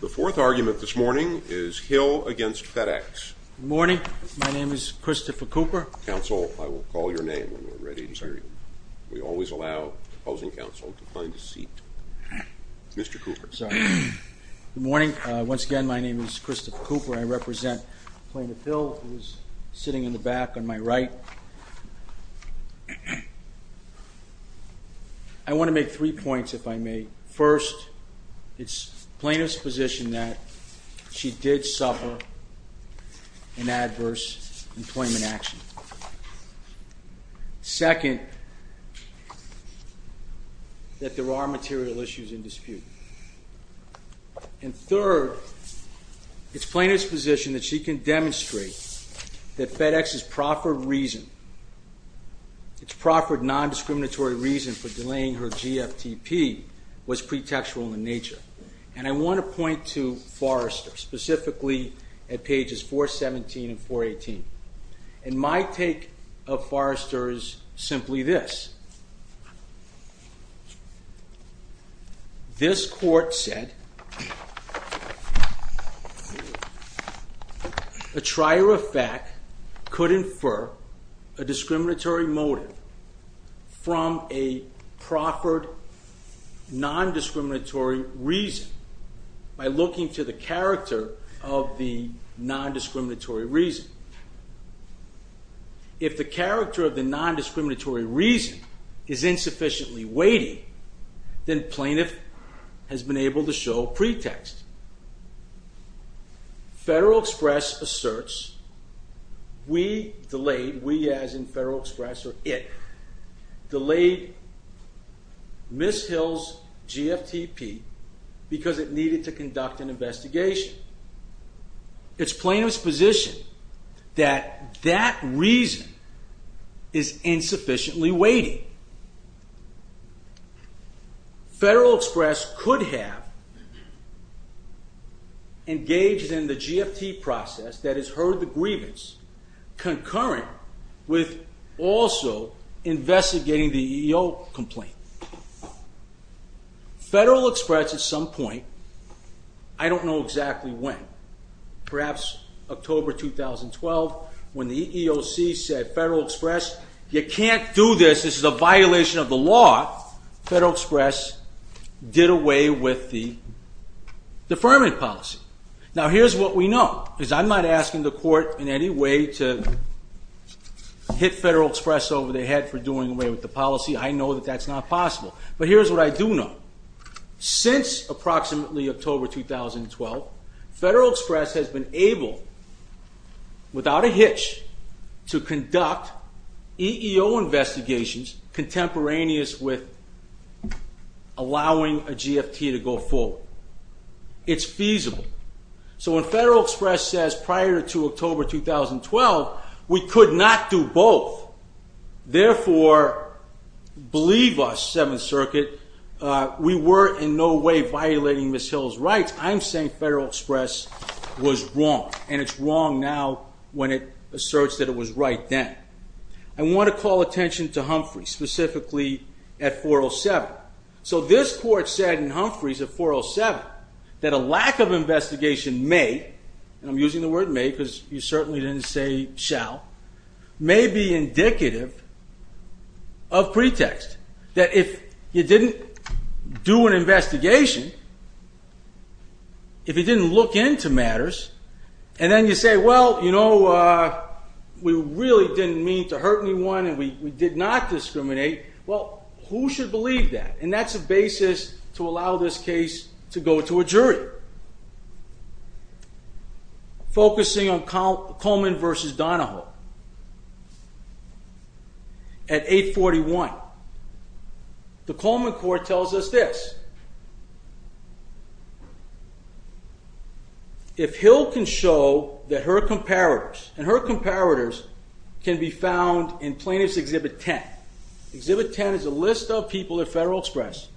The fourth argument this morning is Hill v. FedEx. Good morning. My name is Christopher Cooper. Counsel, I will call your name when we're ready to hear you. We always allow opposing counsel to find a seat. Mr. Cooper. Good morning. Once again, my name is Christopher Cooper. I represent Plaintiff Hill, who is sitting in the back on my right. I want to make three points, if I may. First, it's plaintiff's position that she did suffer an adverse employment action. Second, that there are material issues in dispute. And third, it's plaintiff's position that she can demonstrate that FedEx's proffered reason, for delaying her GFTP, was pretextual in nature. And I want to point to Forrester, specifically at pages 417 and 418. And my take of Forrester is simply this. This court said a trier of fact could infer a discriminatory motive from a proffered non-discriminatory reason by looking to the character of the non-discriminatory reason. If the character of the non-discriminatory reason is insufficiently weighty, then plaintiff has been able to show pretext. Federal Express asserts we delayed, we as in Federal Express or it, delayed Ms. Hill's GFTP because it needed to conduct an investigation. It's plaintiff's position that that reason is insufficiently weighty. Federal Express could have engaged in the GFTP process, that is, heard the grievance, concurrent with also investigating the EEO complaint. Federal Express at some point, I don't know exactly when, perhaps October 2012, when the EEOC said, Federal Express, you can't do this, this is a violation of the law. Federal Express did away with the deferment policy. Now here's what we know. Because I'm not asking the court in any way to hit Federal Express over the head for doing away with the policy. I know that that's not possible. But here's what I do know. Since approximately October 2012, Federal Express has been able, without a hitch, to conduct EEO investigations contemporaneous with allowing a GFT to go forward. It's feasible. So when Federal Express says prior to October 2012, we could not do both, therefore, believe us, Seventh Circuit, we were in no way violating Ms. Hill's rights, I'm saying Federal Express was wrong. And it's wrong now when it asserts that it was right then. I want to call attention to Humphrey, specifically at 407. So this court said in Humphrey's at 407, that a lack of investigation may, and I'm using the word may because you certainly didn't say shall, may be indicative of pretext. That if you didn't do an investigation, if you didn't look into matters, and then you say, well, you know, we really didn't mean to hurt anyone and we did not discriminate, well, who should believe that? And that's a basis to allow this case to go to a jury. Focusing on Coleman v. Donahoe at 841, the Coleman court tells us this. If Hill can show that her comparators, and her comparators can be found in Plaintiff's Exhibit 10. Exhibit 10 is a list of people at Federal Express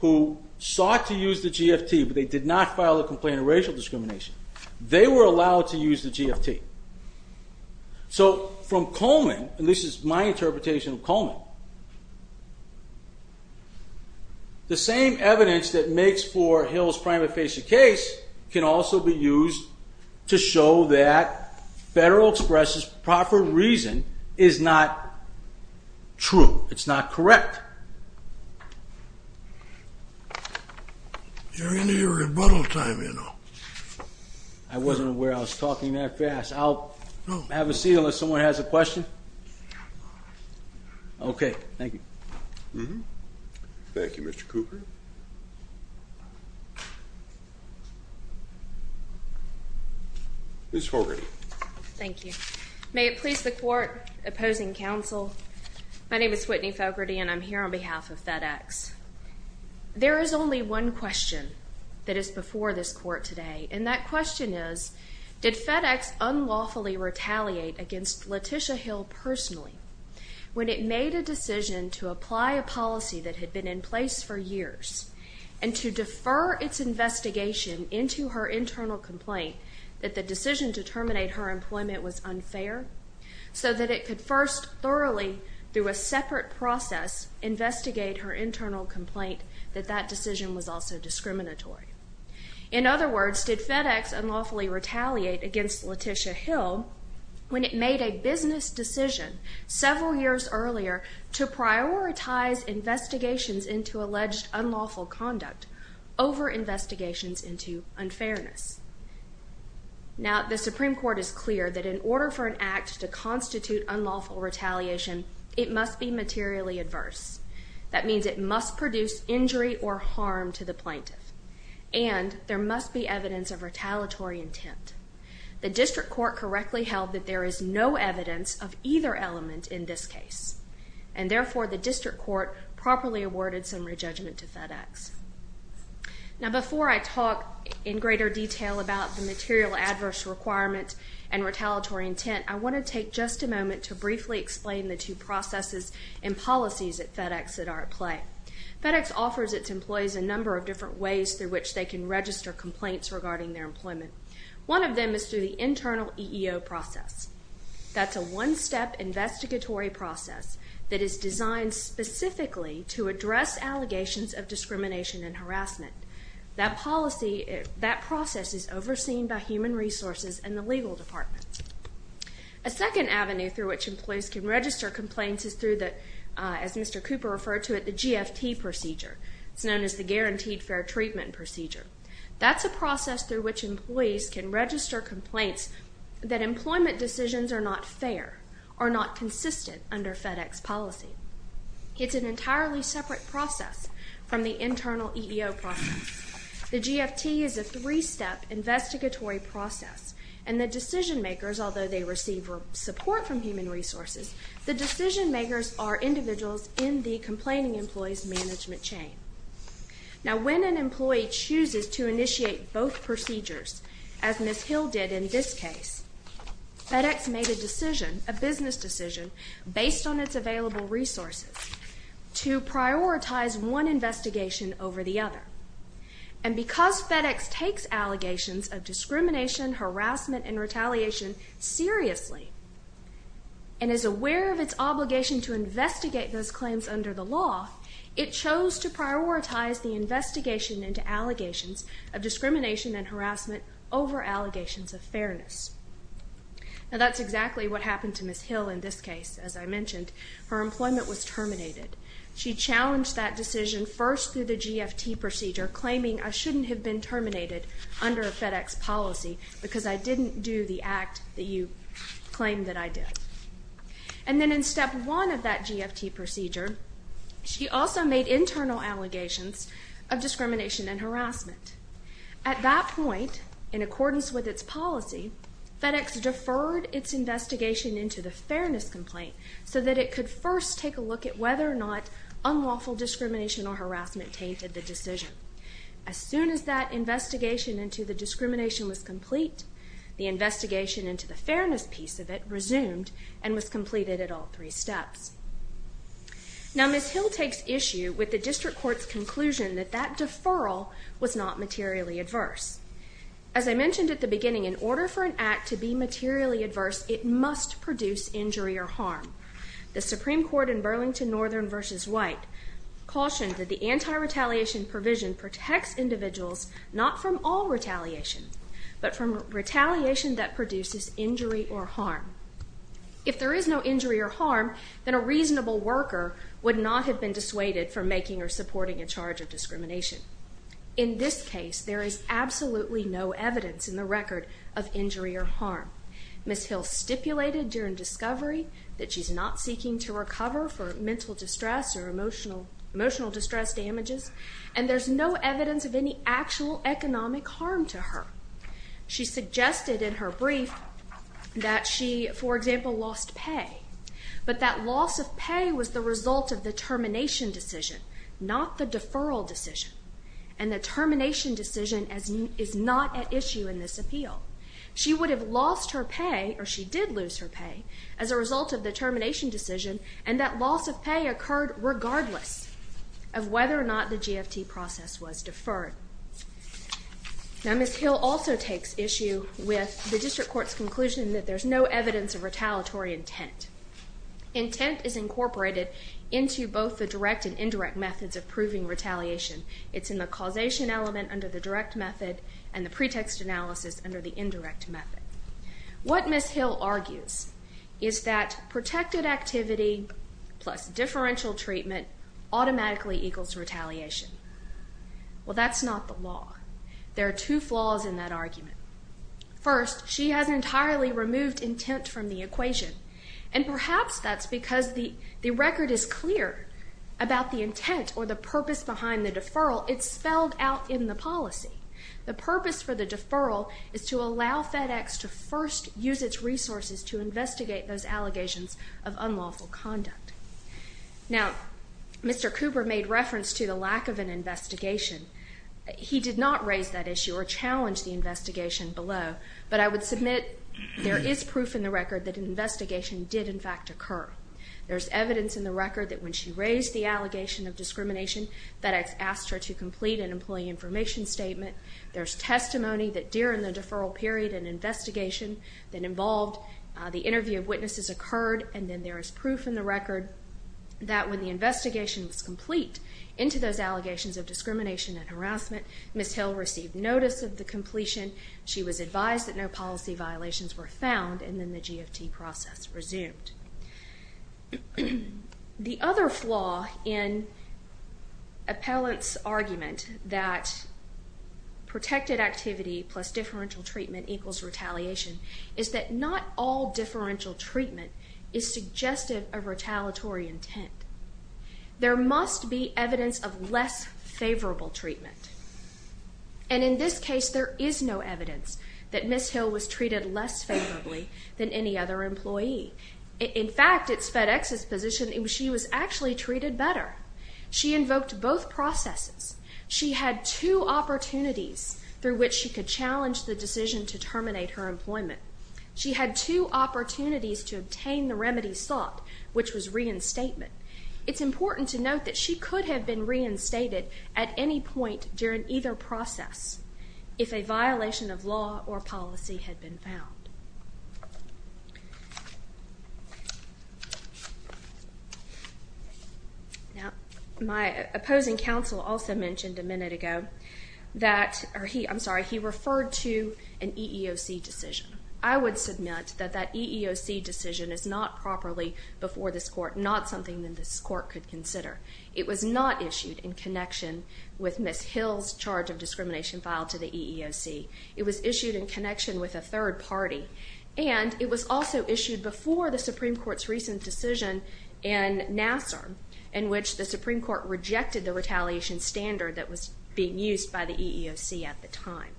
who sought to use the GFT, but they did not file a complaint of racial discrimination. They were allowed to use the GFT. So from Coleman, and this is my interpretation of Coleman, the same evidence that makes for Hill's prima facie case can also be used to show that Federal Express's proper reason is not true, it's not correct. You're in your rebuttal time, you know. I wasn't aware I was talking that fast. I'll have a seat unless someone has a question. Okay, thank you. Thank you, Mr. Cooper. Ms. Fogarty. Thank you. May it please the court opposing counsel, my name is Whitney Fogarty, and I'm here on behalf of FedEx. There is only one question that is before this court today, and that question is, did FedEx unlawfully retaliate against Letitia Hill personally when it made a decision to apply a policy that had been in place for years, and to defer its investigation into her internal complaint that the decision to terminate her employment was unfair, so that it could first thoroughly, through a separate process, investigate her internal complaint that that decision was also discriminatory? In other words, did FedEx unlawfully retaliate against Letitia Hill when it made a business decision several years earlier to prioritize investigations into alleged unlawful conduct over investigations into unfairness? Now, the Supreme Court is clear that in order for an act to constitute unlawful retaliation, it must be materially adverse. That means it must produce injury or harm to the plaintiff, and there must be evidence of retaliatory intent. The district court correctly held that there is no evidence of either element in this case, and therefore the district court properly awarded some re-judgment to FedEx. Now, before I talk in greater detail about the material adverse requirement and retaliatory intent, I want to take just a moment to briefly explain the two processes and policies at FedEx that are at play. FedEx offers its employees a number of different ways through which they can register complaints regarding their employment. One of them is through the internal EEO process. That's a one-step investigatory process that is designed specifically to address allegations of discrimination and harassment. That process is overseen by human resources and the legal department. A second avenue through which employees can register complaints is through, as Mr. Cooper referred to it, the GFT procedure. It's known as the Guaranteed Fair Treatment procedure. That's a process through which employees can register complaints that employment decisions are not fair, are not consistent under FedEx policy. It's an entirely separate process from the internal EEO process. The GFT is a three-step investigatory process, and the decision-makers, although they receive support from human resources, the decision-makers are individuals in the complaining employee's management chain. Now, when an employee chooses to initiate both procedures, as Ms. Hill did in this case, FedEx made a decision, a business decision, based on its available resources, to prioritize one investigation over the other. And because FedEx takes allegations of discrimination, harassment, and retaliation seriously and is aware of its obligation to investigate those claims under the law, it chose to prioritize the investigation into allegations of discrimination and harassment over allegations of fairness. Now, that's exactly what happened to Ms. Hill in this case. As I mentioned, her employment was terminated. She challenged that decision first through the GFT procedure, claiming, I shouldn't have been terminated under a FedEx policy because I didn't do the act that you claimed that I did. And then in step one of that GFT procedure, she also made internal allegations of discrimination and harassment. At that point, in accordance with its policy, FedEx deferred its investigation into the fairness complaint so that it could first take a look at whether or not unlawful discrimination or harassment tainted the decision. As soon as that investigation into the discrimination was complete, the investigation into the fairness piece of it resumed and was completed at all three steps. Now, Ms. Hill takes issue with the district court's conclusion that that deferral was not materially adverse. As I mentioned at the beginning, in order for an act to be materially adverse, it must produce injury or harm. The Supreme Court in Burlington Northern v. White cautioned that the anti-retaliation provision protects individuals not from all retaliation, but from retaliation that produces injury or harm. If there is no injury or harm, then a reasonable worker would not have been dissuaded from making or supporting a charge of discrimination. In this case, there is absolutely no evidence in the record of injury or harm. Ms. Hill stipulated during discovery that she's not seeking to recover for mental distress or emotional distress damages, and there's no evidence of any actual economic harm to her. She suggested in her brief that she, for example, lost pay, but that loss of pay was the result of the termination decision, not the deferral decision, and the termination decision is not at issue in this appeal. She would have lost her pay, or she did lose her pay, as a result of the termination decision, and that loss of pay occurred regardless of whether or not the GFT process was deferred. Now, Ms. Hill also takes issue with the district court's conclusion that there's no evidence of retaliatory intent. Intent is incorporated into both the direct and indirect methods of proving retaliation. It's in the causation element under the direct method and the pretext analysis under the indirect method. What Ms. Hill argues is that protected activity plus differential treatment automatically equals retaliation. Well, that's not the law. There are two flaws in that argument. First, she has entirely removed intent from the equation, and perhaps that's because the record is clear about the intent or the purpose behind the deferral. It's spelled out in the policy. The purpose for the deferral is to allow FedEx to first use its resources to investigate those allegations of unlawful conduct. Now, Mr. Cooper made reference to the lack of an investigation. He did not raise that issue or challenge the investigation below, but I would submit there is proof in the record that an investigation did, in fact, occur. There's evidence in the record that when she raised the allegation of discrimination, FedEx asked her to complete an employee information statement. There's testimony that during the deferral period, an investigation that involved the interview of witnesses occurred, and then there is proof in the record that when the investigation was complete into those allegations of discrimination and harassment, Ms. Hill received notice of the completion. She was advised that no policy violations were found, and then the GFT process resumed. The other flaw in Appellant's argument that protected activity plus differential treatment equals retaliation is that not all differential treatment is suggestive of retaliatory intent. There must be evidence of less favorable treatment, and in this case there is no evidence that Ms. Hill was treated less favorably than any other employee. In fact, it's FedEx's position that she was actually treated better. She invoked both processes. She had two opportunities through which she could challenge the decision to terminate her employment. She had two opportunities to obtain the remedy sought, which was reinstatement. It's important to note that she could have been reinstated at any point during either process if a violation of law or policy had been found. My opposing counsel also mentioned a minute ago that he referred to an EEOC decision. I would submit that that EEOC decision is not properly before this court, not something that this court could consider. It was not issued in connection with Ms. Hill's charge of discrimination filed to the EEOC. It was issued in connection with a third party, and it was also issued before the Supreme Court's recent decision in Nassar in which the Supreme Court rejected the retaliation standard that was being used by the EEOC at the time.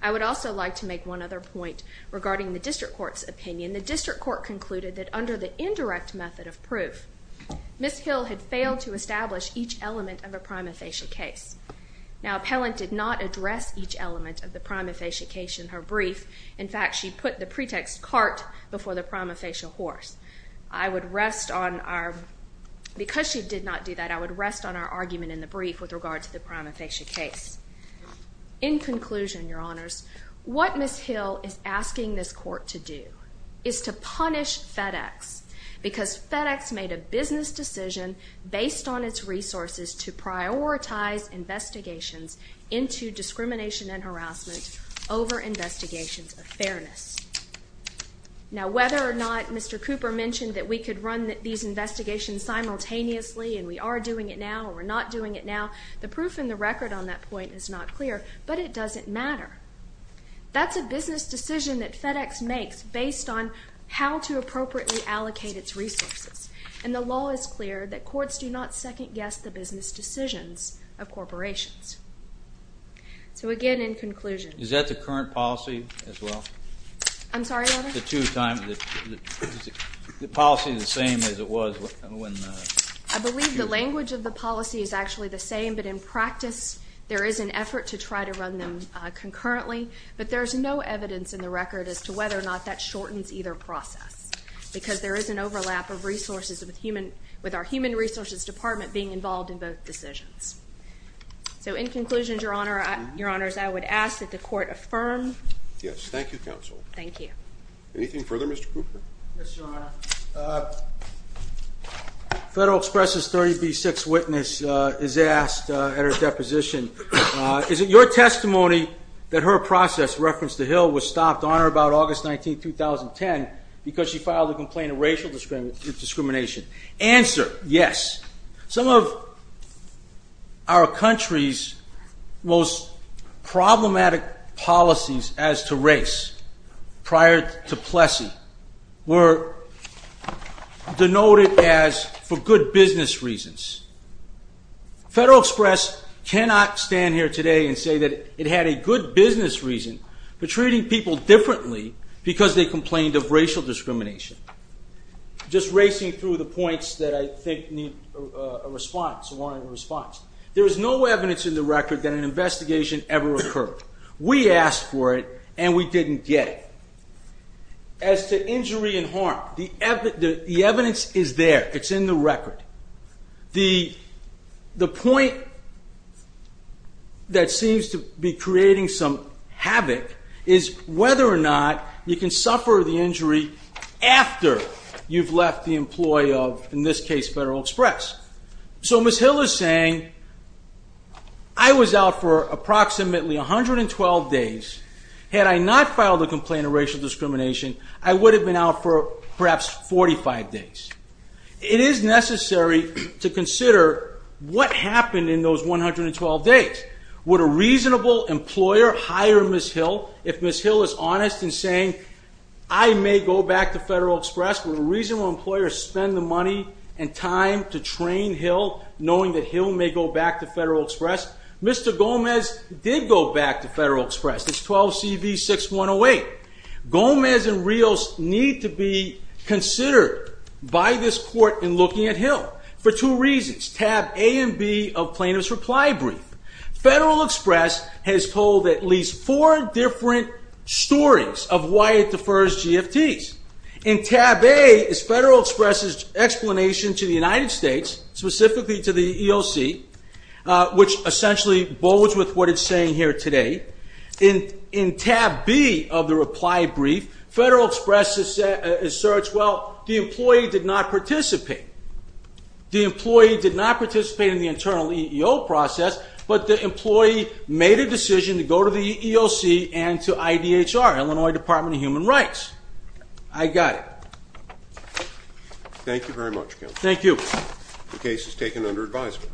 I would also like to make one other point regarding the district court's opinion. The district court concluded that under the indirect method of proof, Ms. Hill had failed to establish each element of a prima facie case. Now, Appellant did not address each element of the prima facie case in her brief. In fact, she put the pretext cart before the prima facie horse. I would rest on our... Because she did not do that, I would rest on our argument in the brief with regard to the prima facie case. In conclusion, Your Honors, what Ms. Hill is asking this court to do is to punish FedEx because FedEx made a business decision based on its resources to prioritize investigations into discrimination and harassment over investigations of fairness. Now, whether or not Mr. Cooper mentioned that we could run these investigations simultaneously, and we are doing it now or we're not doing it now, the proof in the record on that point is not clear, but it doesn't matter. That's a business decision that FedEx makes based on how to appropriately allocate its resources, and the law is clear that courts do not second-guess the business decisions of corporations. So again, in conclusion... Is that the current policy as well? I'm sorry, Your Honor? The two times... Is the policy the same as it was when... I believe the language of the policy is actually the same, but in practice there is an effort to try to run them concurrently, but there's no evidence in the record as to whether or not that shortens either process because there is an overlap of resources with our Human Resources Department being involved in both decisions. So in conclusion, Your Honors, I would ask that the court affirm... Yes, thank you, Counsel. Thank you. Anything further, Mr. Cooper? Yes, Your Honor. Federal Express's 30B6 witness is asked at her deposition, is it your testimony that her process, reference to Hill, was stopped on or about August 19, 2010 because she filed a complaint of racial discrimination? Answer, yes. prior to Plessy were denoted as for good business reasons. Federal Express cannot stand here today and say that it had a good business reason for treating people differently because they complained of racial discrimination. Just racing through the points that I think need a response, a warranted response. There is no evidence in the record that an investigation ever occurred. We asked for it and we didn't get it. As to injury and harm, the evidence is there. It's in the record. The point that seems to be creating some havoc is whether or not you can suffer the injury after you've left the employ of, in this case, Federal Express. So Ms. Hill is saying, I was out for approximately 112 days. Had I not filed a complaint of racial discrimination, I would have been out for perhaps 45 days. It is necessary to consider what happened in those 112 days. Would a reasonable employer hire Ms. Hill if Ms. Hill is honest in saying, I may go back to Federal Express, would a reasonable employer spend the money and time to train Hill knowing that Hill may go back to Federal Express? Mr. Gomez did go back to Federal Express. It's 12CV6108. Gomez and Rios need to be considered by this court in looking at Hill for two reasons, tab A and B of plaintiff's reply brief. Federal Express has told at least four different stories of why it defers GFTs. In tab A is Federal Express's explanation to the United States, specifically to the EEOC, which essentially bodes with what it's saying here today. In tab B of the reply brief, Federal Express asserts, well, the employee did not participate. The employee did not participate in the internal EEO process, but the employee made a decision to go to the EEOC and to IDHR, Illinois Department of Human Rights. I got it. Thank you very much, Counselor. Thank you. The case is taken under advisement.